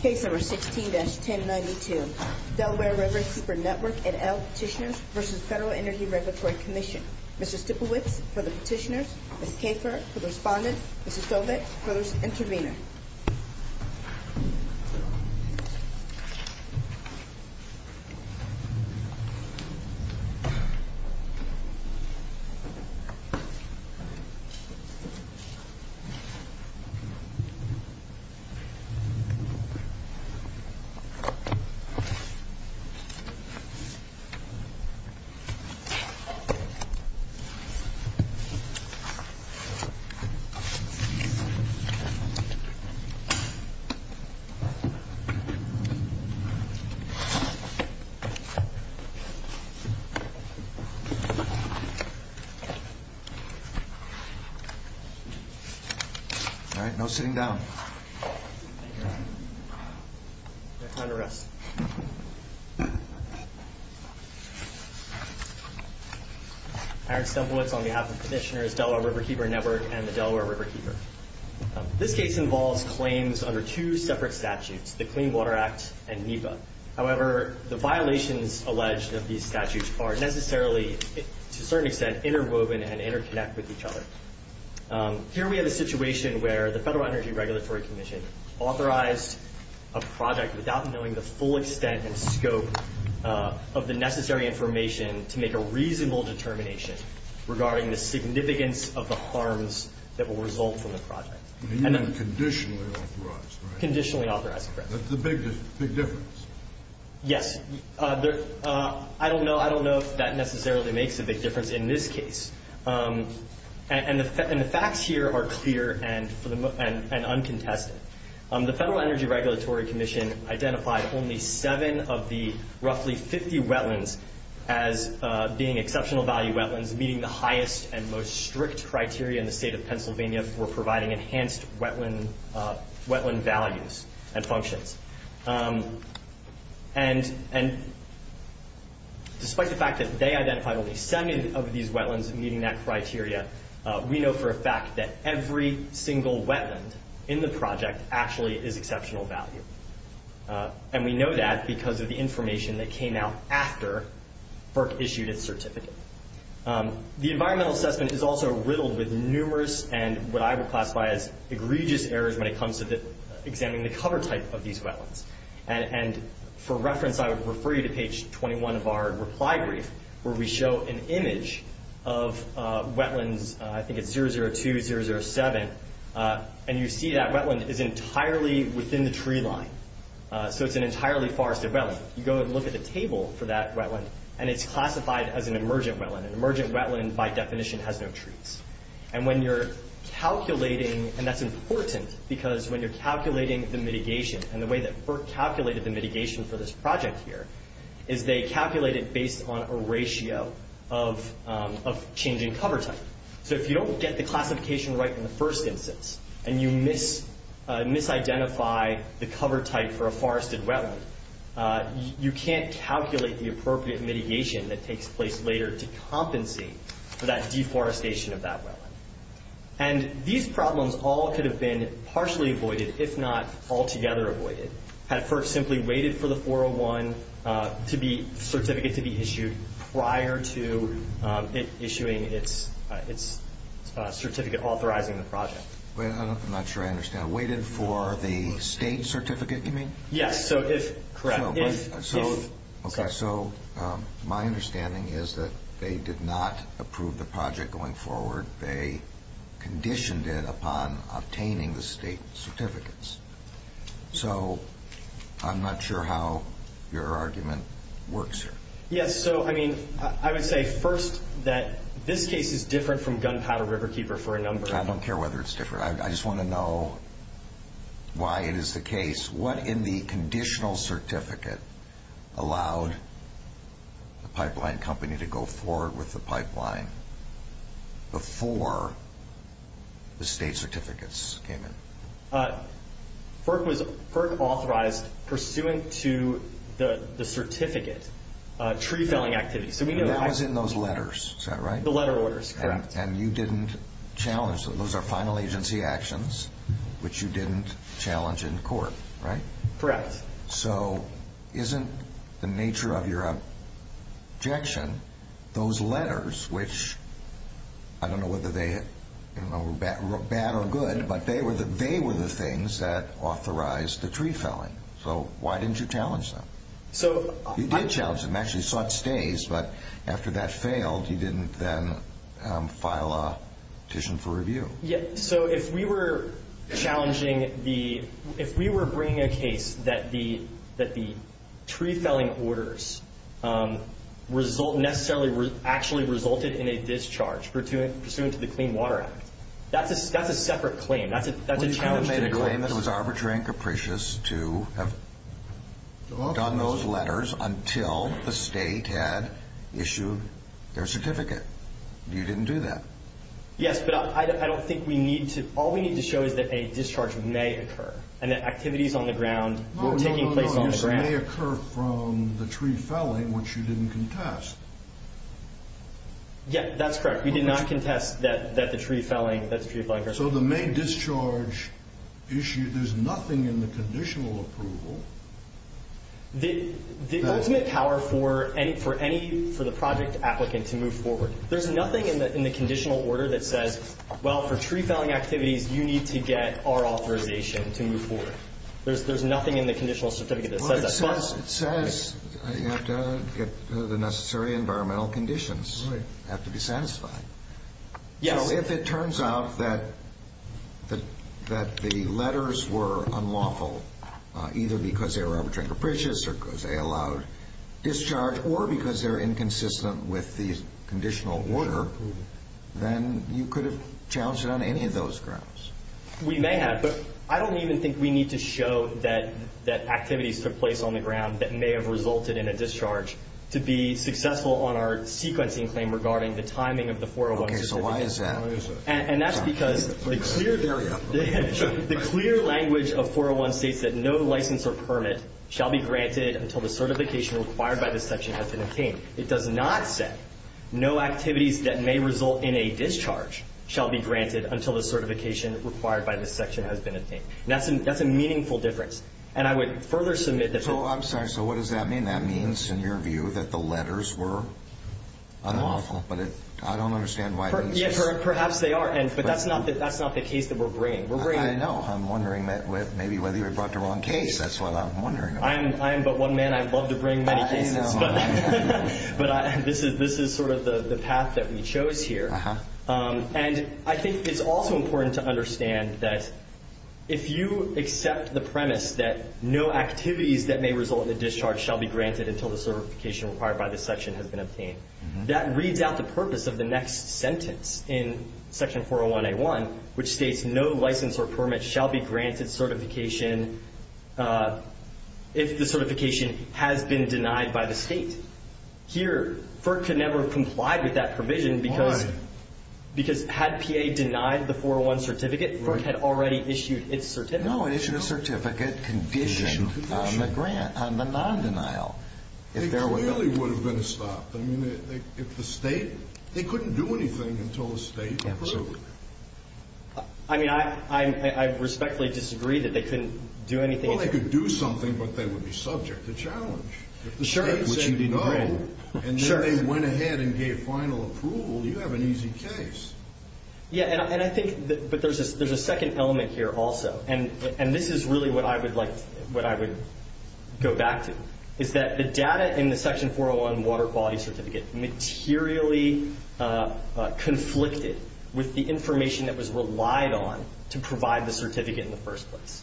Case number 16-1092. Delaware Riverkeeper Network and L Petitioners v. Federal Energy Regulatory Commission. Mr. Stiplewicz for the petitioners, Ms. Kafer for the respondent, Ms. Stovall for the intervener. All right. No sitting down. Aaron Stiplewicz on behalf of the petitioners, Delaware Riverkeeper Network and the Delaware Riverkeeper. This case involves claims under two separate statutes, the Clean Water Act and NEPA. However, the violations alleged of these statutes are necessarily, to a certain extent, interwoven and interconnect with each other. Here we have a situation where the Federal Energy Regulatory Commission authorized a project without knowing the full extent and scope of the necessary information to make a reasonable determination regarding the significance of the harms that will result from the project. You mean conditionally authorized, right? Conditionally authorized, correct. That's the big difference. Yes. I don't know if that necessarily makes a big difference in this case. And the facts here are clear and uncontested. The Federal Energy Regulatory Commission identified only seven of the roughly 50 wetlands as being exceptional value wetlands, meeting the highest and most strict criteria in the state of Pennsylvania for providing enhanced wetland values and functions. And despite the fact that they identified only seven of these wetlands meeting that criteria, we know for a fact that every single wetland in the project actually is exceptional value. And we know that because of the information that came out after FERC issued its certificate. The environmental assessment is also riddled with numerous and what I would classify as egregious errors when it comes to examining the cover type of these wetlands. And for reference, I would refer you to page 21 of our reply brief where we show an image of wetlands, I think it's 002, 007, and you see that wetland is entirely within the tree line. So it's an entirely forested wetland. You go and look at the table for that wetland, and it's classified as an emergent wetland. An emergent wetland, by definition, has no trees. And when you're calculating, and that's important because when you're calculating the mitigation and the way that FERC calculated the mitigation for this project here, is they calculated based on a ratio of change in cover type. So if you don't get the classification right in the first instance, and you misidentify the cover type for a forested wetland, you can't calculate the appropriate mitigation that takes place later to compensate for that deforestation of that wetland. And these problems all could have been partially avoided if not altogether avoided had FERC simply waited for the 401 certificate to be issued prior to it issuing its certificate, authorizing the project. I'm not sure I understand. Waited for the state certificate, you mean? Yes. Correct. Okay. So my understanding is that they did not approve the project going forward. They conditioned it upon obtaining the state certificates. So I'm not sure how your argument works here. Yes. So, I mean, I would say first that this case is different from Gunpowder Riverkeeper for a number of reasons. I don't care whether it's different. I just want to know why it is the case. What in the conditional certificate allowed the pipeline company to go forward with the pipeline before the state certificates came in? FERC authorized pursuant to the certificate tree felling activities. That was in those letters, is that right? The letter orders, correct. And you didn't challenge them. Those are final agency actions, which you didn't challenge in court, right? Correct. So isn't the nature of your objection those letters, which I don't know whether they were bad or good, but they were the things that authorized the tree felling. So why didn't you challenge them? You did challenge them. Actually, you sought stays, but after that failed, you didn't then file a petition for review. Yes. So if we were challenging the ‑‑ if we were bringing a case that the tree felling orders necessarily actually resulted in a discharge pursuant to the Clean Water Act, that's a separate claim. That's a challenge to the court. Well, you could have made a claim that it was arbitrary and capricious to have done those letters until the state had issued their certificate. You didn't do that. Yes, but I don't think we need to. All we need to show is that a discharge may occur and that activities on the ground were taking place on the ground. No, no, no. This may occur from the tree felling, which you didn't contest. Yeah, that's correct. We did not contest that the tree felling ‑‑ So the main discharge issue, there's nothing in the conditional approval. The ultimate power for any ‑‑ for the project applicant to move forward, there's nothing in the conditional order that says, well, for tree felling activities, you need to get our authorization to move forward. There's nothing in the conditional certificate that says that. It says you have to get the necessary environmental conditions. Right. You have to be satisfied. If it turns out that the letters were unlawful, either because they were arbitrary and capricious or because they allowed discharge or because they're inconsistent with the conditional order, then you could have challenged it on any of those grounds. We may have, but I don't even think we need to show that activities took place on the ground that may have resulted in a discharge to be successful on our sequencing claim regarding the timing of the 401 certification. Okay, so why is that? And that's because the clear language of 401 states that no license or permit shall be granted until the certification required by this section has been obtained. It does not say no activities that may result in a discharge shall be granted until the certification required by this section has been obtained. That's a meaningful difference. And I would further submit that ‑‑ I'm sorry, so what does that mean? That means, in your view, that the letters were unlawful. But I don't understand why this is ‑‑ Perhaps they are. But that's not the case that we're bringing. I know. I'm wondering maybe whether you brought the wrong case. That's what I'm wondering about. I am but one man. I love to bring many cases. I know. But this is sort of the path that we chose here. And I think it's also important to understand that if you accept the premise that no activities that may result in a discharge shall be granted until the certification required by this section has been obtained, that reads out the purpose of the next sentence in section 401A1, which states no license or permit shall be granted certification if the certification has been denied by the state. Here, FERC could never have complied with that provision. Why? Because had PA denied the 401 certificate, FERC had already issued its certificate. No, it issued a certificate condition on the grant, on the non‑denial. It clearly would have been stopped. I mean, if the state ‑‑ they couldn't do anything until the state approved. Absolutely. I mean, I respectfully disagree that they couldn't do anything. Well, they could do something, but they would be subject to challenge. If the state said no, and then they went ahead and gave final approval, you have an easy case. Yeah, and I think ‑‑ but there's a second element here also. And this is really what I would like ‑‑ what I would go back to, is that the data in the section 401 water quality certificate materially conflicted with the information that was relied on to provide the certificate in the first place.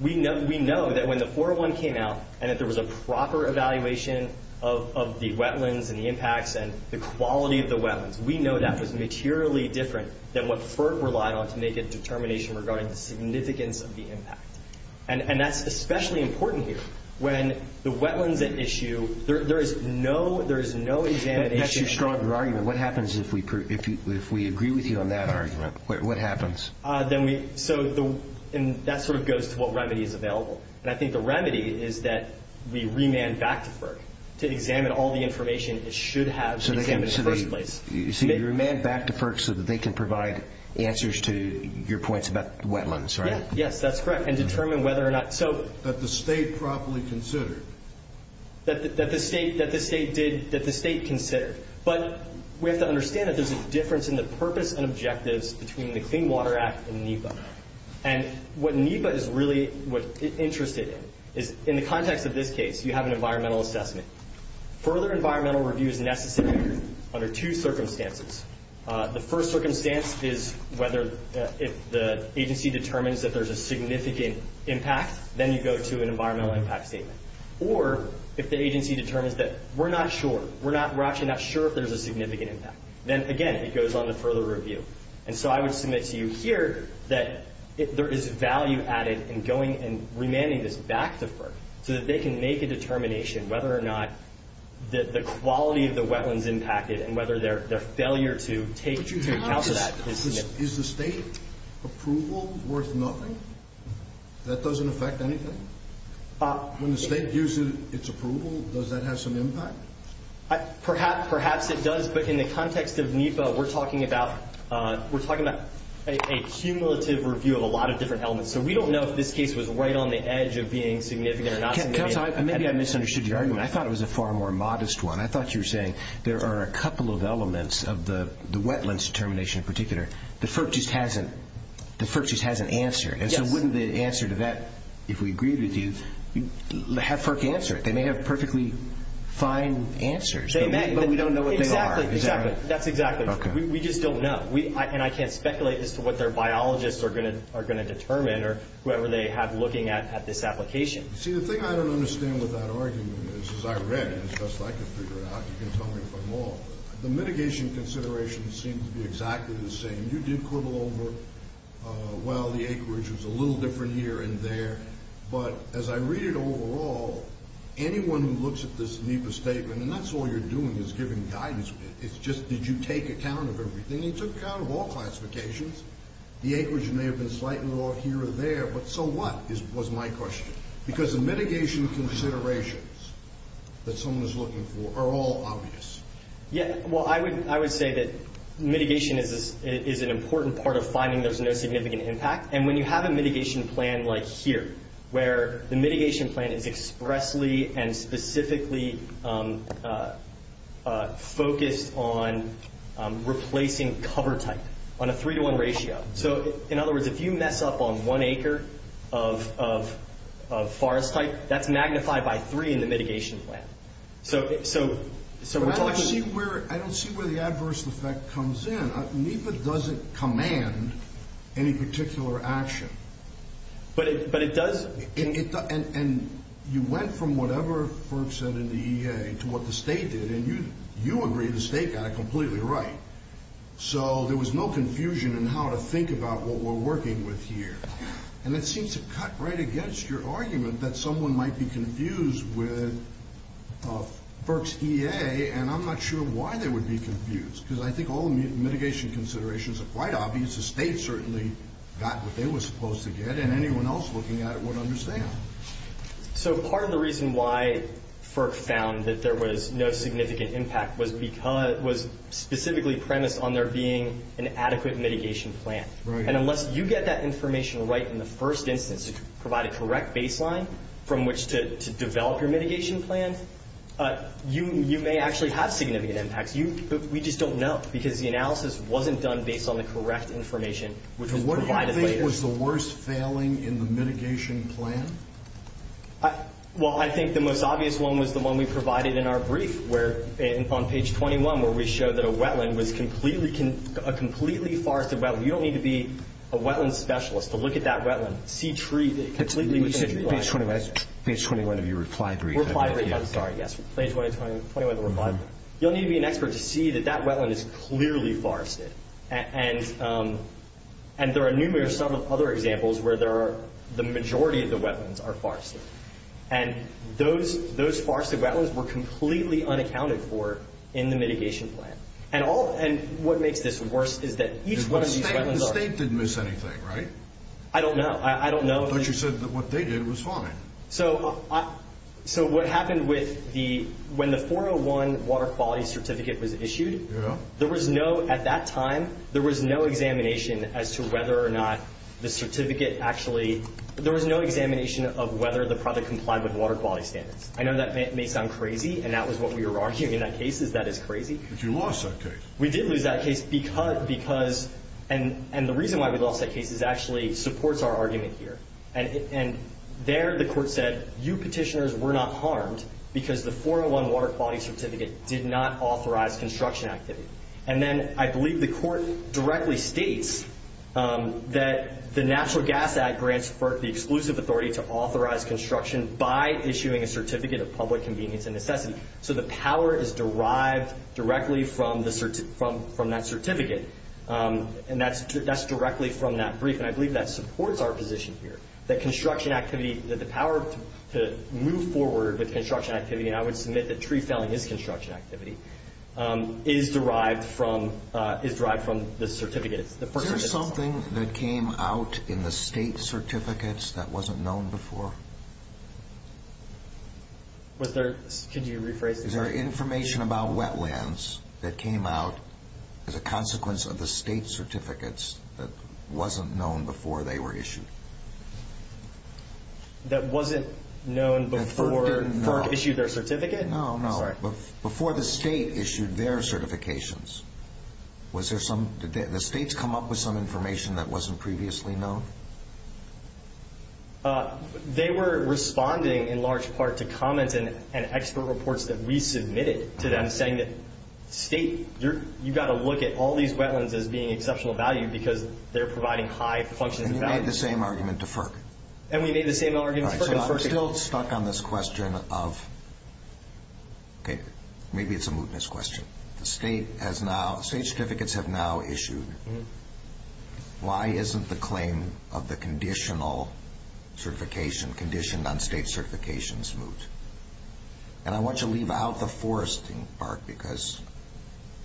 We know that when the 401 came out and that there was a proper evaluation of the wetlands and the impacts and the quality of the wetlands, we know that was materially different than what FERC relied on to make a determination regarding the significance of the impact. And that's especially important here. When the wetlands at issue, there is no ‑‑ That's your strong argument. What happens if we agree with you on that argument? What happens? That sort of goes to what remedy is available. And I think the remedy is that we remand back to FERC to examine all the information it should have examined in the first place. So you remand back to FERC so that they can provide answers to your points about the wetlands, right? Yes, that's correct, and determine whether or not ‑‑ That the state properly considered. That the state did ‑‑ that the state considered. But we have to understand that there's a difference in the purpose and objectives between the Clean Water Act and NEPA. And what NEPA is really interested in is, in the context of this case, you have an environmental assessment. Further environmental review is necessary under two circumstances. The first circumstance is whether, if the agency determines that there's a significant impact, then you go to an environmental impact statement. Or if the agency determines that we're not sure, we're actually not sure if there's a significant impact, then, again, it goes on to further review. And so I would submit to you here that there is value added in going and remanding this back to FERC so that they can make a determination whether or not the quality of the wetlands impacted and whether their failure to take into account that is NEPA. Is the state approval worth nothing? That doesn't affect anything? When the state gives its approval, does that have some impact? Perhaps it does, but in the context of NEPA, we're talking about a cumulative review of a lot of different elements. So we don't know if this case was right on the edge of being significant or not significant. Kelso, maybe I misunderstood your argument. I thought it was a far more modest one. I thought you were saying there are a couple of elements of the wetlands determination in particular that FERC just hasn't answered. And so wouldn't the answer to that, if we agreed with you, have FERC answer it? They may have perfectly fine answers, but we don't know what they are. Exactly. That's exactly right. We just don't know, and I can't speculate as to what their biologists are going to determine or whoever they have looking at this application. See, the thing I don't understand with that argument is, as I read it, as best I could figure out, you can tell me if I'm wrong, the mitigation considerations seem to be exactly the same. You did quibble over, well, the acreage was a little different here and there. But as I read it overall, anyone who looks at this NEPA statement, and that's all you're doing is giving guidance. It's just did you take account of everything? I mean, you took account of all classifications. The acreage may have been slightly off here or there, but so what was my question? Because the mitigation considerations that someone is looking for are all obvious. Yeah, well, I would say that mitigation is an important part of finding there's no significant impact, and when you have a mitigation plan like here, where the mitigation plan is expressly and specifically focused on replacing cover type on a three-to-one ratio. So in other words, if you mess up on one acre of forest type, that's magnified by three in the mitigation plan. But I don't see where the adverse effect comes in. NEPA doesn't command any particular action. But it does? And you went from whatever FERC said in the EA to what the state did, and you agree the state got it completely right. So there was no confusion in how to think about what we're working with here. And it seems to cut right against your argument that someone might be confused with FERC's EA, and I'm not sure why they would be confused, because I think all the mitigation considerations are quite obvious. The state certainly got what they were supposed to get, and anyone else looking at it would understand. So part of the reason why FERC found that there was no significant impact was specifically premised on there being an adequate mitigation plan. And unless you get that information right in the first instance to provide a correct baseline from which to develop your mitigation plan, you may actually have significant impacts. We just don't know because the analysis wasn't done based on the correct information. What do you think was the worst failing in the mitigation plan? Well, I think the most obvious one was the one we provided in our brief on page 21 where we showed that a wetland was a completely forested wetland. You don't need to be a wetland specialist to look at that wetland. Page 21 of your reply brief. Yes, page 21 of the reply. You don't need to be an expert to see that that wetland is clearly forested. And there are numerous other examples where the majority of the wetlands are forested. And those forested wetlands were completely unaccounted for in the mitigation plan. And what makes this worse is that each one of these wetlands are— The state didn't miss anything, right? I don't know. I don't know. But you said that what they did was fine. So what happened with the— When the 401 water quality certificate was issued, there was no—at that time, there was no examination as to whether or not the certificate actually— there was no examination of whether the product complied with water quality standards. I know that may sound crazy, and that was what we were arguing in that case is that it's crazy. But you lost that case. We did lose that case because—and the reason why we lost that case is it actually supports our argument here. And there the court said, you petitioners were not harmed because the 401 water quality certificate did not authorize construction activity. And then I believe the court directly states that the Natural Gas Act grants for the exclusive authority to authorize construction by issuing a certificate of public convenience and necessity. So the power is derived directly from that certificate. And that's directly from that brief. And I believe that supports our position here, that construction activity— that the power to move forward with construction activity— and I would submit that tree felling is construction activity—is derived from the certificate. Is there something that came out in the state certificates that wasn't known before? Was there—could you rephrase that? Is there information about wetlands that came out as a consequence of the state certificates that wasn't known before they were issued? That wasn't known before FERC issued their certificate? No, no. I'm sorry. Before the state issued their certifications, was there some— did the states come up with some information that wasn't previously known? They were responding in large part to comments and expert reports that we submitted to them saying that state—you've got to look at all these wetlands as being exceptional value because they're providing high functions of value. And you made the same argument to FERC. And we made the same argument to FERC. So I'm still stuck on this question of—okay, maybe it's a mootness question. The state has now—state certificates have now issued. Why isn't the claim of the conditional certification conditioned on state certifications moot? And I want you to leave out the foresting part because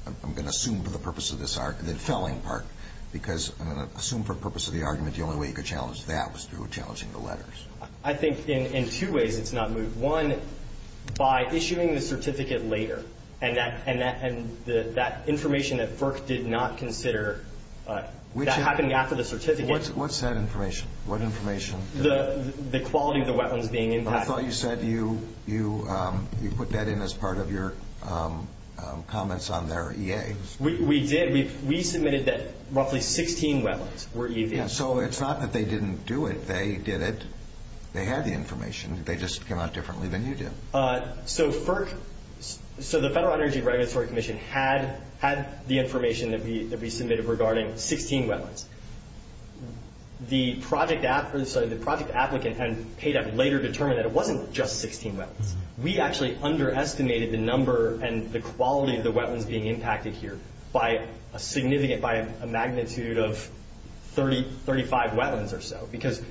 I'm going to assume for the purpose of this argument— the felling part because I'm going to assume for the purpose of the argument the only way you could challenge that was through challenging the letters. I think in two ways it's not moot. One, by issuing the certificate later and that information that FERC did not consider, that happened after the certificate— What's that information? What information? The quality of the wetlands being impacted. I thought you said you put that in as part of your comments on their EA. We did. We submitted that roughly 16 wetlands were EV. So it's not that they didn't do it. They did it. They had the information. They just came out differently than you did. So the Federal Energy Regulatory Commission had the information that we submitted regarding 16 wetlands. The project applicant and PADEP later determined that it wasn't just 16 wetlands. We actually underestimated the number and the quality of the wetlands being impacted here by a significant—by a magnitude of 35 wetlands or so because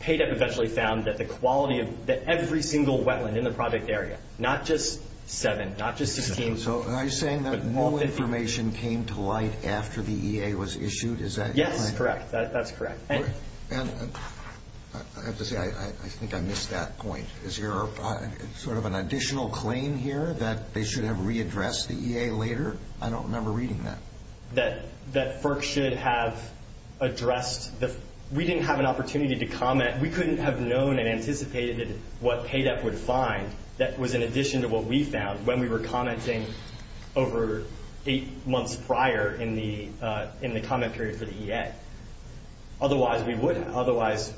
PADEP eventually found that the quality of every single wetland in the project area, not just 7, not just 16— So are you saying that no information came to light after the EA was issued? Is that correct? Yes, correct. That's correct. And I have to say I think I missed that point. Is there sort of an additional claim here that they should have readdressed the EA later? I don't remember reading that. That FERC should have addressed the—we didn't have an opportunity to comment. We couldn't have known and anticipated what PADEP would find. That was in addition to what we found when we were commenting over 8 months prior in the comment period for the EA. Otherwise, we would have. Otherwise,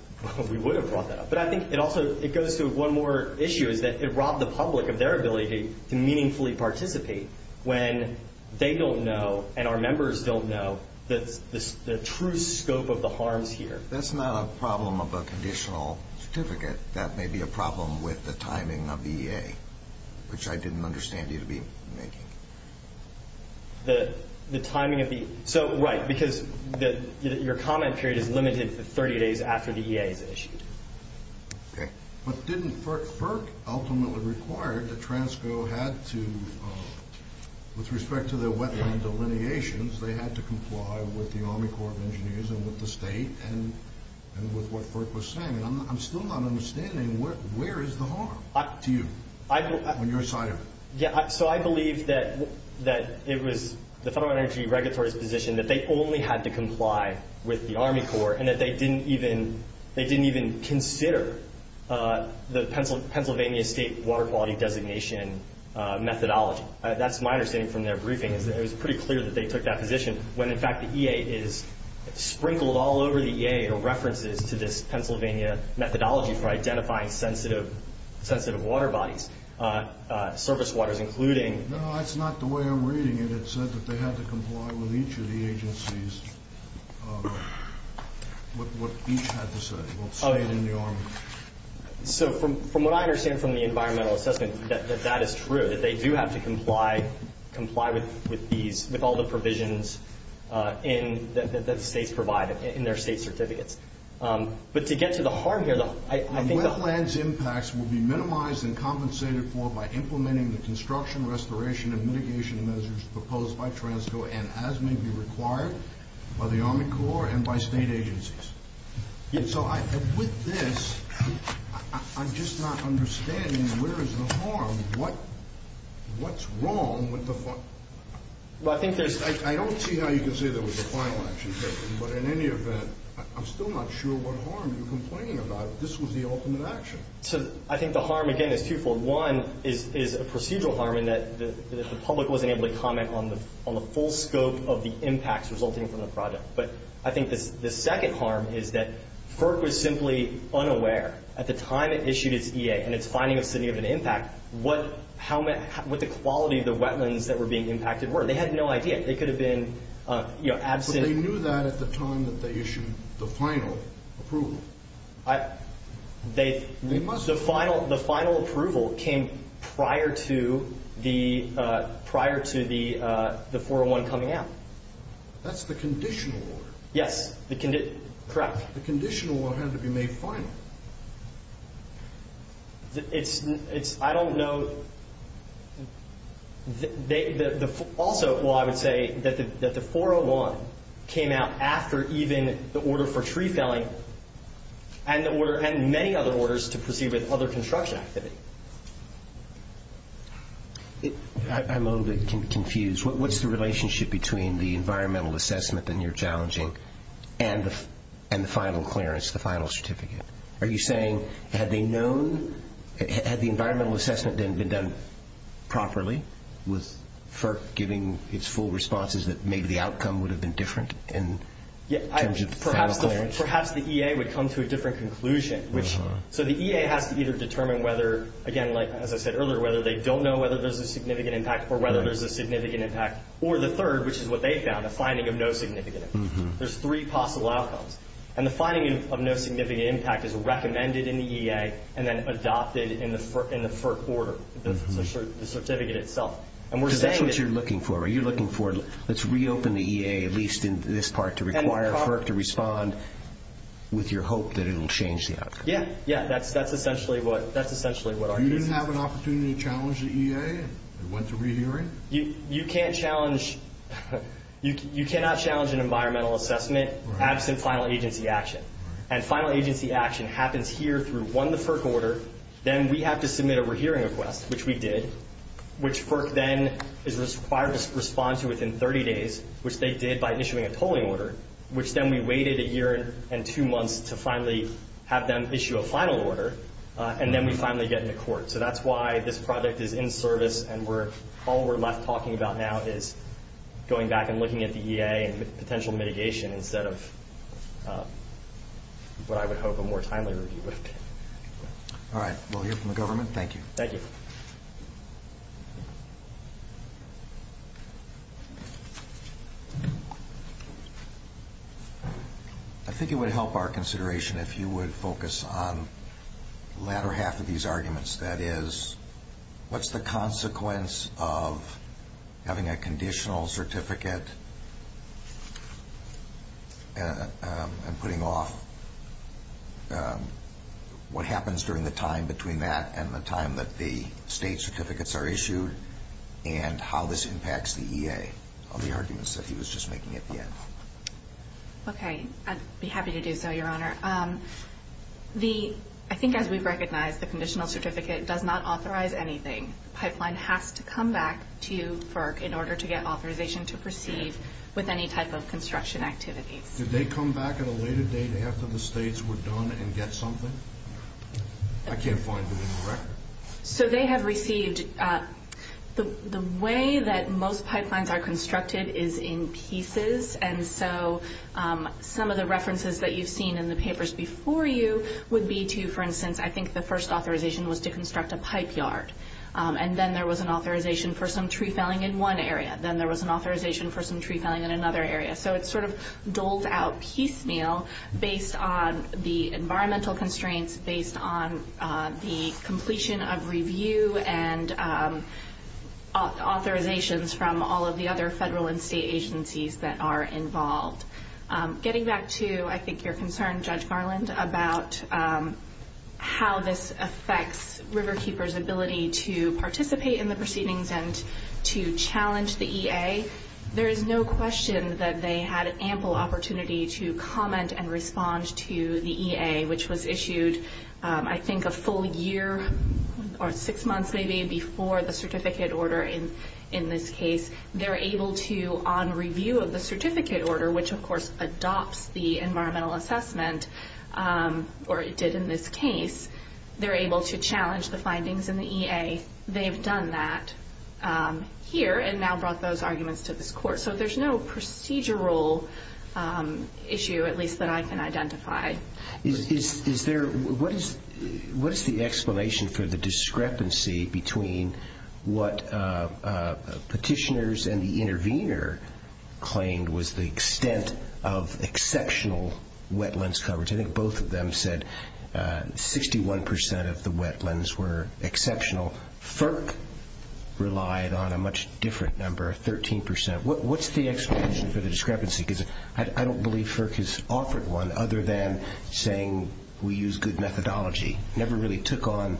we would have brought that up. But I think it also—it goes to one more issue, is that it robbed the public of their ability to meaningfully participate when they don't know and our members don't know the true scope of the harms here. That's not a problem of a conditional certificate. That may be a problem with the timing of the EA, which I didn't understand you to be making. The timing of the—so, right, because your comment period is limited to 30 days after the EA is issued. Okay. But didn't FERC ultimately require that TRANSCO had to—with respect to their wetland delineations, they had to comply with the Army Corps of Engineers and with the state and with what FERC was saying? I'm still not understanding where is the harm to you on your side of it? Yeah. So I believe that it was the Federal Energy Regulatory's position that they only had to comply with the Army Corps and that they didn't even consider the Pennsylvania State Water Quality Designation methodology. That's my understanding from their briefing, is that it was pretty clear that they took that position when, in fact, the EA is sprinkled all over the EA are references to this Pennsylvania methodology for identifying sensitive water bodies, surface waters, including— No, that's not the way I'm reading it. It said that they had to comply with each of the agencies, what each had to say. Well, say it in your— So from what I understand from the environmental assessment, that that is true, that they do have to comply with all the provisions that the states provide in their state certificates. But to get to the harm here, I think the— Wetlands impacts will be minimized and compensated for by implementing the construction, restoration, and mitigation measures proposed by Transco and as may be required by the Army Corps and by state agencies. So with this, I'm just not understanding where is the harm? What's wrong with the— Well, I think there's— I don't see how you can say there was a final action taken. But in any event, I'm still not sure what harm you're complaining about. This was the ultimate action. So I think the harm, again, is twofold. One is a procedural harm in that the public wasn't able to comment on the full scope of the impacts resulting from the project. But I think the second harm is that FERC was simply unaware at the time it issued its EA and its finding of significant impact, what the quality of the wetlands that were being impacted were. They had no idea. They could have been absent— But they knew that at the time that they issued the final approval. They must have— The final approval came prior to the 401 coming out. That's the conditional order. Yes. Correct. The conditional order had to be made final. It's—I don't know. Also, I would say that the 401 came out after even the order for tree felling and many other orders to proceed with other construction activity. I'm a little bit confused. What's the relationship between the environmental assessment that you're challenging and the final clearance, the final certificate? Are you saying had they known—had the environmental assessment been done properly with FERC giving its full responses that maybe the outcome would have been different in terms of the final clearance? Perhaps the EA would come to a different conclusion. So the EA has to either determine whether, again, like I said earlier, whether they don't know whether there's a significant impact or whether there's a significant impact, or the third, which is what they found, a finding of no significant impact. There's three possible outcomes. And the finding of no significant impact is recommended in the EA and then adopted in the FERC order, the certificate itself. And we're saying— Because that's what you're looking for. You're looking for let's reopen the EA at least in this part to require FERC to respond with your hope that it will change the outcome. Yes. Yes. That's essentially what our case is. So you didn't have an opportunity to challenge the EA and went to rehearing? You can't challenge—you cannot challenge an environmental assessment absent final agency action. And final agency action happens here through, one, the FERC order. Then we have to submit a rehearing request, which we did, which FERC then is required to respond to within 30 days, which they did by issuing a polling order, which then we waited a year and two months to finally have them issue a final order. And then we finally get into court. So that's why this project is in service and all we're left talking about now is going back and looking at the EA and potential mitigation instead of what I would hope a more timely review would be. All right. We'll hear from the government. Thank you. Thank you. I think it would help our consideration if you would focus on the latter half of these arguments. That is, what's the consequence of having a conditional certificate and putting off what happens during the time between that and the time that the state certificates are issued and how this impacts the EA on the arguments that he was just making at the end? Okay. I'd be happy to do so, Your Honor. I think as we've recognized, the conditional certificate does not authorize anything. The pipeline has to come back to FERC in order to get authorization to proceed with any type of construction activities. Did they come back at a later date after the states were done and get something? I can't find them in the record. So they have received. The way that most pipelines are constructed is in pieces, and so some of the references that you've seen in the papers before you would be to, for instance, I think the first authorization was to construct a pipe yard, and then there was an authorization for some tree felling in one area. Then there was an authorization for some tree felling in another area. So it's sort of doled out piecemeal based on the environmental constraints, based on the completion of review and authorizations from all of the other federal and state agencies that are involved. Getting back to, I think, your concern, Judge Garland, about how this affects Riverkeeper's ability to participate in the proceedings and to challenge the EA, there is no question that they had ample opportunity to comment and respond to the EA, which was issued I think a full year or six months maybe before the certificate order in this case. They're able to, on review of the certificate order, which of course adopts the environmental assessment, or it did in this case, they're able to challenge the findings in the EA. They've done that here and now brought those arguments to this court. So there's no procedural issue, at least that I can identify. What is the explanation for the discrepancy between what petitioners and the intervener claimed was the extent of exceptional wetlands coverage? I think both of them said 61% of the wetlands were exceptional. FERC relied on a much different number, 13%. What's the explanation for the discrepancy? Because I don't believe FERC has offered one other than saying we use good methodology. Never really took on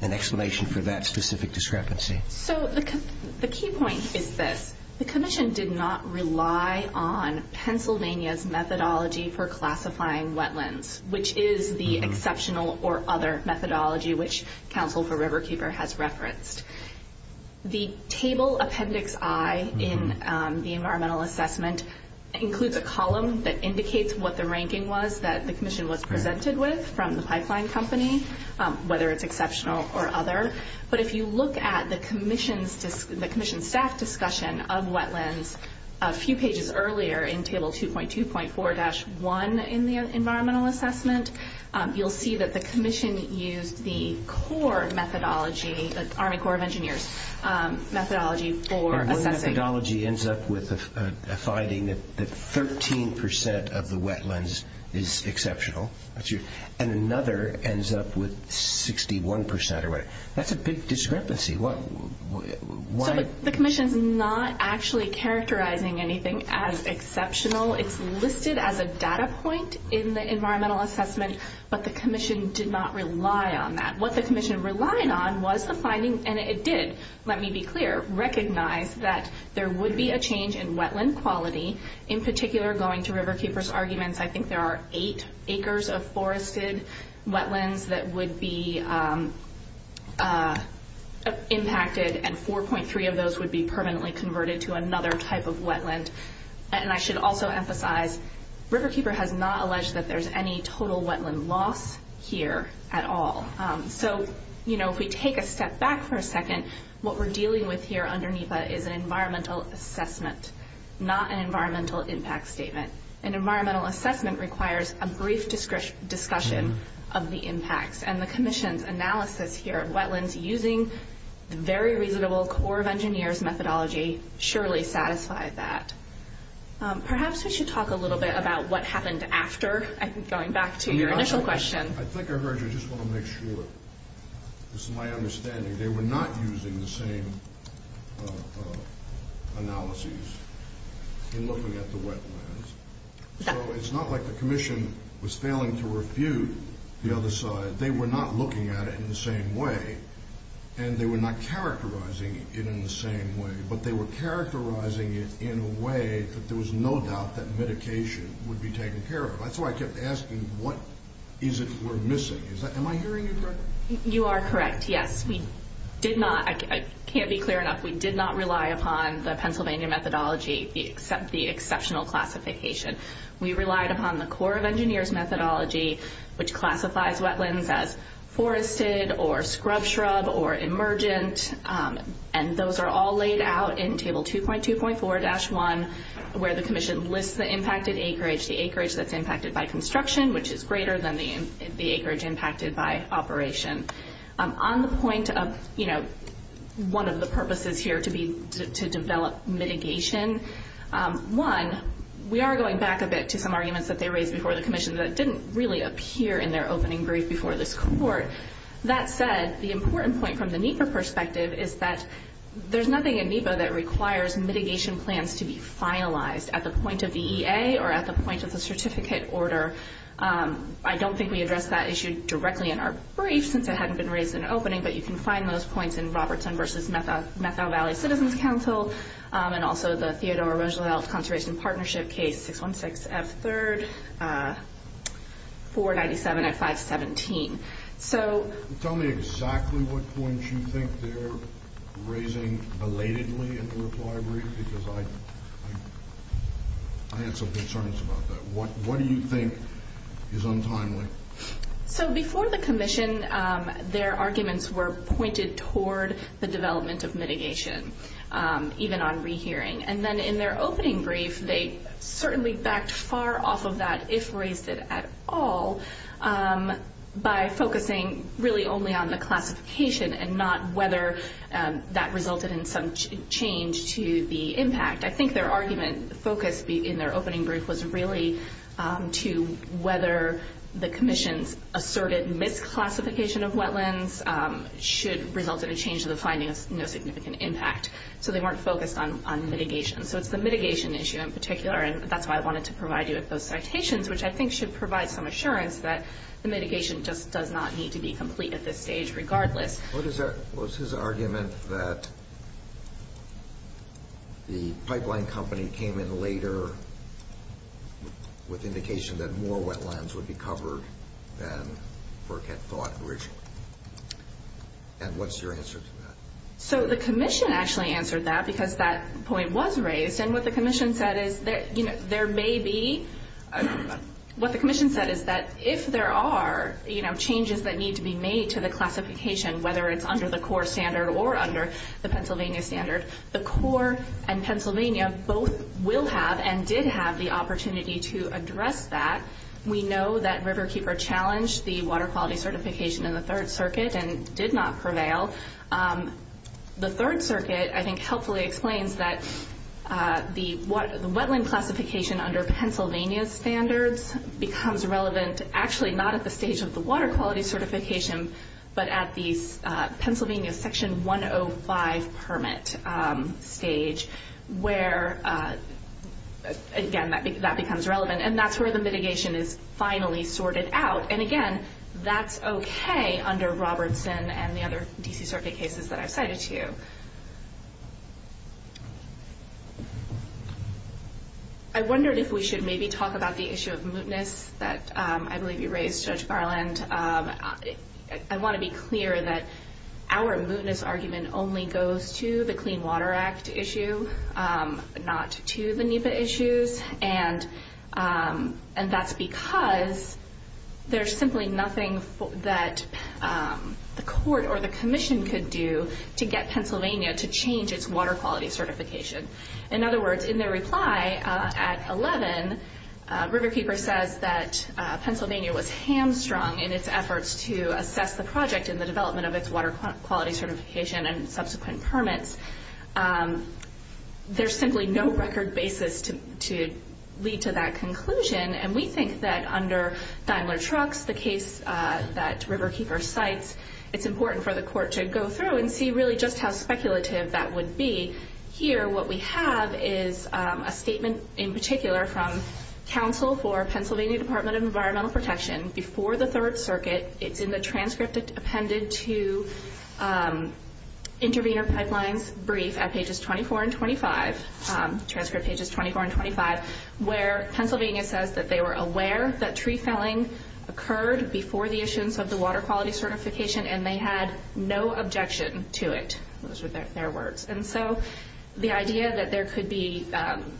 an explanation for that specific discrepancy. So the key point is this. The commission did not rely on Pennsylvania's methodology for classifying wetlands, which is the exceptional or other methodology which counsel for Riverkeeper has referenced. The table appendix I in the environmental assessment includes a column that indicates what the ranking was that the commission was presented with from the pipeline company, whether it's exceptional or other. But if you look at the commission staff discussion of wetlands a few pages earlier in table 2.2.4-1 in the environmental assessment, you'll see that the commission used the core methodology, the Army Corps of Engineers methodology for assessing. One methodology ends up with a finding that 13% of the wetlands is exceptional, and another ends up with 61%. That's a big discrepancy. The commission's not actually characterizing anything as exceptional. It's listed as a data point in the environmental assessment, but the commission did not rely on that. What the commission relied on was the finding, and it did, let me be clear, recognize that there would be a change in wetland quality. In particular, going to Riverkeeper's arguments, I think there are eight acres of forested wetlands that would be impacted, and 4.3 of those would be permanently converted to another type of wetland. I should also emphasize, Riverkeeper has not alleged that there's any total wetland loss here at all. If we take a step back for a second, what we're dealing with here under NEPA is an environmental assessment, not an environmental impact statement. An environmental assessment requires a brief discussion of the impacts, and the commission's analysis here of wetlands using the very reasonable Corps of Engineers methodology surely satisfied that. Perhaps we should talk a little bit about what happened after, I think, going back to your initial question. I think I heard you. I just want to make sure this is my understanding. They were not using the same analyses in looking at the wetlands. So it's not like the commission was failing to refute the other side. They were not looking at it in the same way, and they were not characterizing it in the same way, but they were characterizing it in a way that there was no doubt that medication would be taken care of. That's why I kept asking, what is it we're missing? Am I hearing you correctly? You are correct, yes. We did not, I can't be clear enough, we did not rely upon the Pennsylvania methodology, except the exceptional classification. We relied upon the Corps of Engineers methodology, which classifies wetlands as forested or scrub-shrub or emergent, and those are all laid out in Table 2.2.4-1, where the commission lists the impacted acreage, the acreage that's impacted by construction, which is greater than the acreage impacted by operation. On the point of, you know, one of the purposes here to develop mitigation, one, we are going back a bit to some arguments that they raised before the commission that didn't really appear in their opening brief before this court. That said, the important point from the NEPA perspective is that there's nothing in NEPA that requires mitigation plans to be finalized at the point of the EA or at the point of the certificate order. I don't think we addressed that issue directly in our brief, since it hadn't been raised in our opening, but you can find those points in Robertson v. Methow Valley Citizens Council and also the Theodore Roosevelt Conservation Partnership Case 616F3, 497F517. So... Tell me exactly what points you think they're raising belatedly in the reply brief, because I had some concerns about that. What do you think is untimely? So before the commission, their arguments were pointed toward the development of mitigation, even on rehearing. And then in their opening brief, they certainly backed far off of that, if raised it at all, by focusing really only on the classification and not whether that resulted in some change to the impact. I think their argument focused in their opening brief was really to whether the commission's asserted misclassification of wetlands should result in a change to the finding of no significant impact. So they weren't focused on mitigation. So it's the mitigation issue in particular, and that's why I wanted to provide you with those citations, which I think should provide some assurance that the mitigation just does not need to be complete at this stage, regardless. What was his argument that the pipeline company came in later with indication that more wetlands would be covered than FERC had thought originally? And what's your answer to that? So the commission actually answered that, because that point was raised. And what the commission said is that if there are changes that need to be made to the classification, whether it's under the core standard or under the Pennsylvania standard, the core and Pennsylvania both will have and did have the opportunity to address that. We know that Riverkeeper challenged the water quality certification in the Third Circuit and did not prevail. The Third Circuit, I think, helpfully explains that the wetland classification under Pennsylvania standards becomes relevant actually not at the stage of the water quality certification, but at the Pennsylvania Section 105 permit stage, where, again, that becomes relevant. And that's where the mitigation is finally sorted out. And, again, that's okay under Robertson and the other D.C. Circuit cases that I've cited to you. I wondered if we should maybe talk about the issue of mootness that I believe you raised, Judge Barland. I want to be clear that our mootness argument only goes to the Clean Water Act issue, not to the NEPA issues. And that's because there's simply nothing that the court or the commission could do to get Pennsylvania to change its water quality certification. In other words, in their reply at 11, Riverkeeper says that Pennsylvania was hamstrung in its efforts to assess the project in the development of its water quality certification and subsequent permits. There's simply no record basis to lead to that conclusion. And we think that under Daimler Trucks, the case that Riverkeeper cites, it's important for the court to go through and see really just how speculative that would be. Here, what we have is a statement in particular from counsel for Pennsylvania Department of Environmental Protection before the Third Circuit. It's in the transcript appended to Intervenor Pipeline's brief at pages 24 and 25, transcript pages 24 and 25, where Pennsylvania says that they were aware that tree felling occurred before the issuance of the water quality certification and they had no objection to it. Those were their words. And so the idea that there could be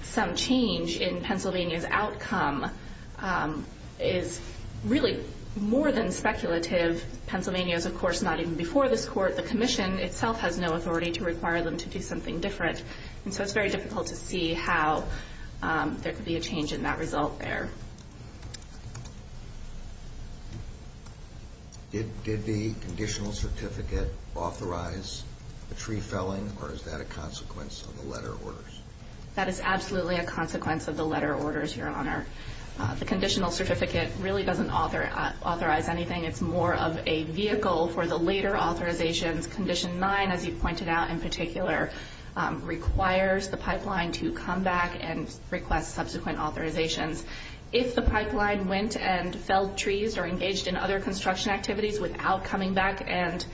some change in Pennsylvania's outcome is really more than speculative. Pennsylvania is, of course, not even before this court. The commission itself has no authority to require them to do something different. And so it's very difficult to see how there could be a change in that result there. Did the conditional certificate authorize the tree felling, or is that a consequence of the letter orders? That is absolutely a consequence of the letter orders, Your Honor. The conditional certificate really doesn't authorize anything. It's more of a vehicle for the later authorizations. Condition 9, as you pointed out in particular, requires the pipeline to come back and request subsequent authorizations. If the pipeline went and felled trees or engaged in other construction activities without coming back and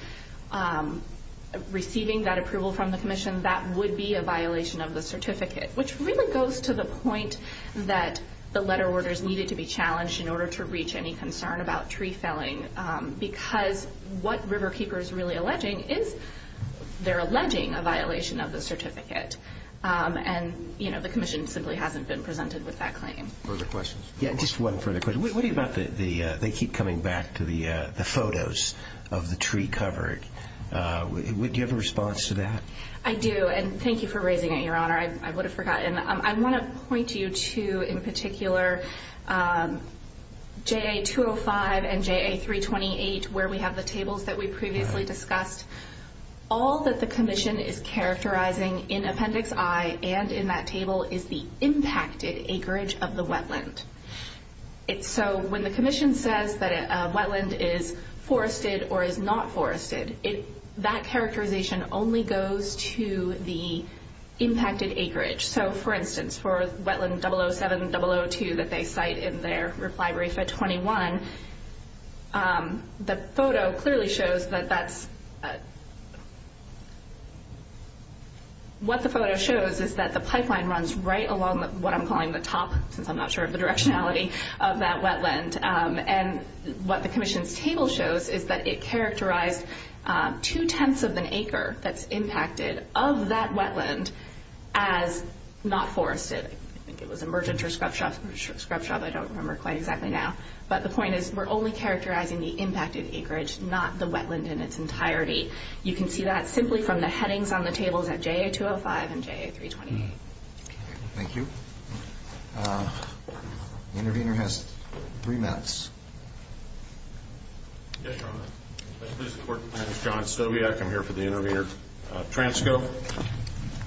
receiving that approval from the commission, that would be a violation of the certificate, which really goes to the point that the letter orders needed to be challenged in order to reach any concern about tree felling because what Riverkeeper is really alleging is they're alleging a violation of the certificate. And the commission simply hasn't been presented with that claim. Further questions? Yeah, just one further question. What do you think about they keep coming back to the photos of the tree covered? Do you have a response to that? I do, and thank you for raising it, Your Honor. I would have forgotten. I want to point you to, in particular, JA-205 and JA-328, where we have the tables that we previously discussed. All that the commission is characterizing in Appendix I and in that table is the impacted acreage of the wetland. So when the commission says that a wetland is forested or is not forested, that characterization only goes to the impacted acreage. So, for instance, for wetland 007-002 that they cite in their reply brief at 21, the photo clearly shows that that's – what the photo shows is that the pipeline runs right along what I'm calling the top, since I'm not sure of the directionality of that wetland. And what the commission's table shows is that it characterized two-tenths of an acre that's impacted of that wetland as not forested. I think it was emergent or scrub shop. Scrub shop, I don't remember quite exactly now. But the point is we're only characterizing the impacted acreage, not the wetland in its entirety. You can see that simply from the headings on the tables at JA-205 and JA-328. Thank you. The intervener has three minutes. Yes, Your Honor. My name is John Stobiak. I'm here for the intervener. Transco,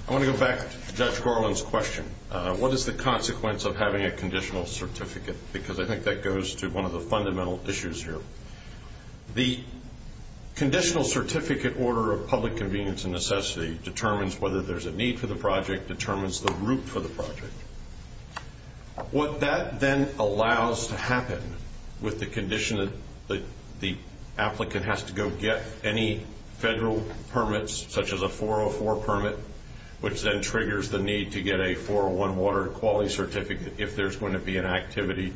I want to go back to Judge Gorlin's question. What is the consequence of having a conditional certificate? Because I think that goes to one of the fundamental issues here. The conditional certificate order of public convenience and necessity determines whether there's a need for the project, determines the route for the project. What that then allows to happen with the condition that the applicant has to go get any federal permits, such as a 404 permit, which then triggers the need to get a 401 water quality certificate if there's going to be an activity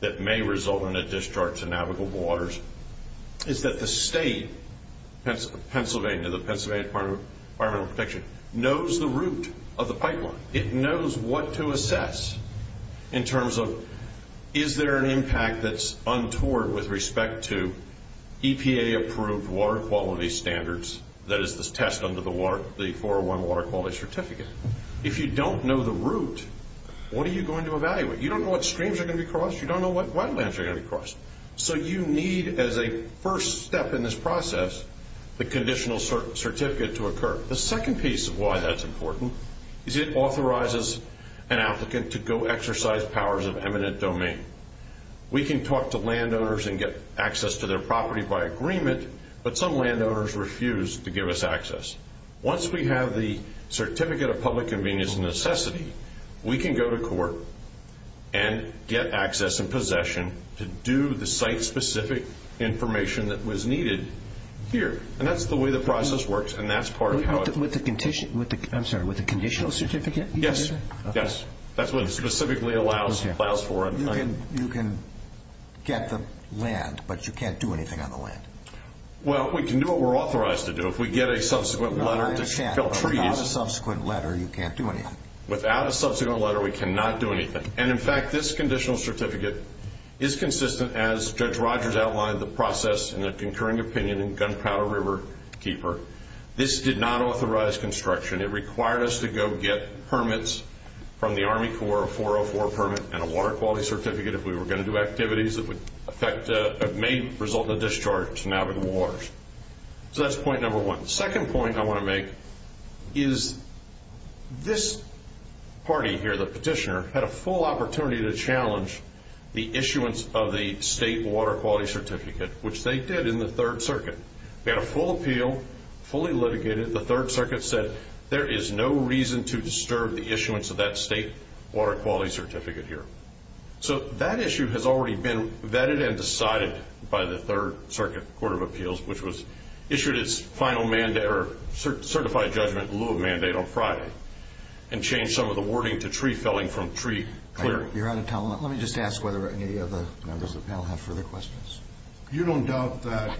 that may result in a discharge to navigable waters, is that the state, Pennsylvania, the Pennsylvania Department of Environmental Protection, knows the route of the pipeline. It knows what to assess in terms of is there an impact that's untoward with respect to EPA-approved water quality standards, that is, this test under the 401 water quality certificate. If you don't know the route, what are you going to evaluate? You don't know what streams are going to be crossed. You don't know what wetlands are going to be crossed. So you need, as a first step in this process, the conditional certificate to occur. The second piece of why that's important is it authorizes an applicant to go exercise powers of eminent domain. We can talk to landowners and get access to their property by agreement, but some landowners refuse to give us access. Once we have the certificate of public convenience and necessity, we can go to court and get access and possession to do the site-specific information that was needed here. And that's the way the process works, and that's part of the audit. With the conditional certificate? Yes. That's what it specifically allows for. You can get the land, but you can't do anything on the land. Well, we can do what we're authorized to do. If we get a subsequent letter to fill treaties. Without a subsequent letter, you can't do anything. Without a subsequent letter, we cannot do anything. And, in fact, this conditional certificate is consistent, as Judge Rogers outlined, the process and the concurring opinion in Gunpowder Riverkeeper. This did not authorize construction. It required us to go get permits from the Army Corps, a 404 permit and a water quality certificate, if we were going to do activities that may result in a discharge to navigable waters. So that's point number one. The second point I want to make is this party here, the petitioner, had a full opportunity to challenge the issuance of the state water quality certificate, which they did in the Third Circuit. They had a full appeal, fully litigated. The Third Circuit said there is no reason to disturb the issuance of that state water quality certificate here. So that issue has already been vetted and decided by the Third Circuit Court of Appeals, which was issued its final mandate or certified judgment in lieu of mandate on Friday and changed some of the wording to tree felling from tree clearing. Your Honor, let me just ask whether any of the members of the panel have further questions. You don't doubt that at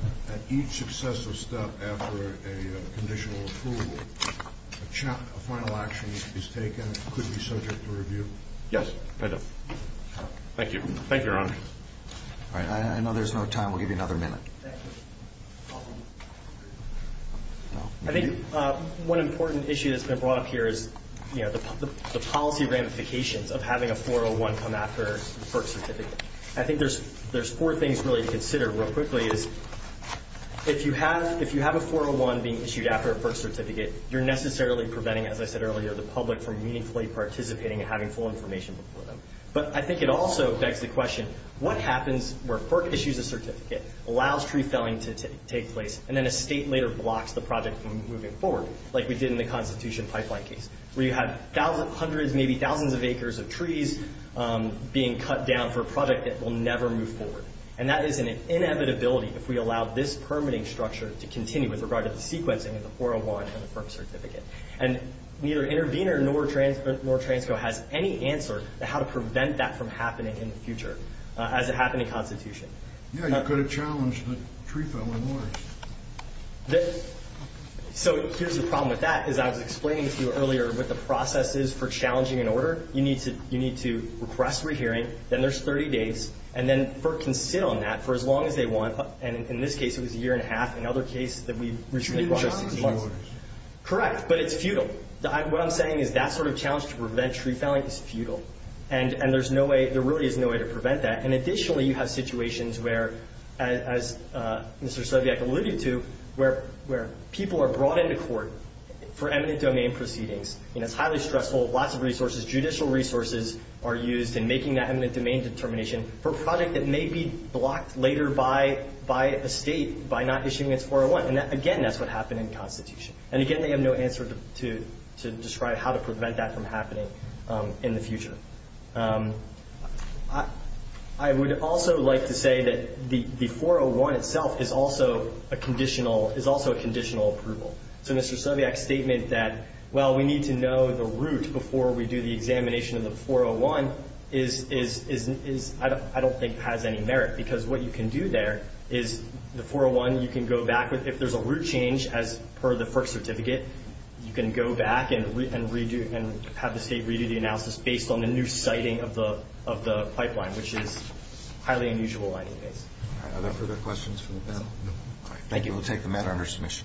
each successive step after a conditional approval, a final action is taken that could be subject to review? Yes, I don't. Thank you. Thank you, Your Honor. All right, I know there's no time. We'll give you another minute. I think one important issue that's been brought up here is the policy ramifications of having a 401 come after a FERC certificate. I think there's four things really to consider real quickly. If you have a 401 being issued after a FERC certificate, you're necessarily preventing, as I said earlier, the public from meaningfully participating and having full information before them. But I think it also begs the question, what happens where FERC issues a certificate, allows tree felling to take place, and then a state later blocks the project from moving forward, like we did in the Constitution Pipeline case, where you have thousands, hundreds, maybe thousands of acres of trees being cut down for a project that will never move forward? And that is an inevitability if we allow this permitting structure to continue with regard to the sequencing of the 401 and the FERC certificate. And neither Intervenor nor Transco has any answer to how to prevent that from happening in the future as it happened in the Constitution. Yeah, you could have challenged the tree felling orders. So here's the problem with that, is I was explaining to you earlier what the process is for challenging an order. You need to request rehearing. Then there's 30 days. And then FERC can sit on that for as long as they want. And in this case, it was a year and a half. Another case that we recently brought up was— You didn't challenge the orders. Correct, but it's futile. What I'm saying is that sort of challenge to prevent tree felling is futile. And there's no way—there really is no way to prevent that. And additionally, you have situations where, as Mr. Soviec alluded to, where people are brought into court for eminent domain proceedings. And it's highly stressful. Lots of resources, judicial resources, are used in making that eminent domain determination for a project that may be blocked later by a state by not issuing its 401. And again, that's what happened in Constitution. And again, they have no answer to describe how to prevent that from happening in the future. I would also like to say that the 401 itself is also a conditional approval. So Mr. Soviec's statement that, well, we need to know the root before we do the examination of the 401, I don't think has any merit, because what you can do there is the 401, you can go back with—if there's a root change as per the FERC certificate, you can go back and have the state redo the analysis based on the new citing of the pipeline, which is highly unusual in many ways. Are there further questions from the panel? No. Thank you. We'll take the matter under submission.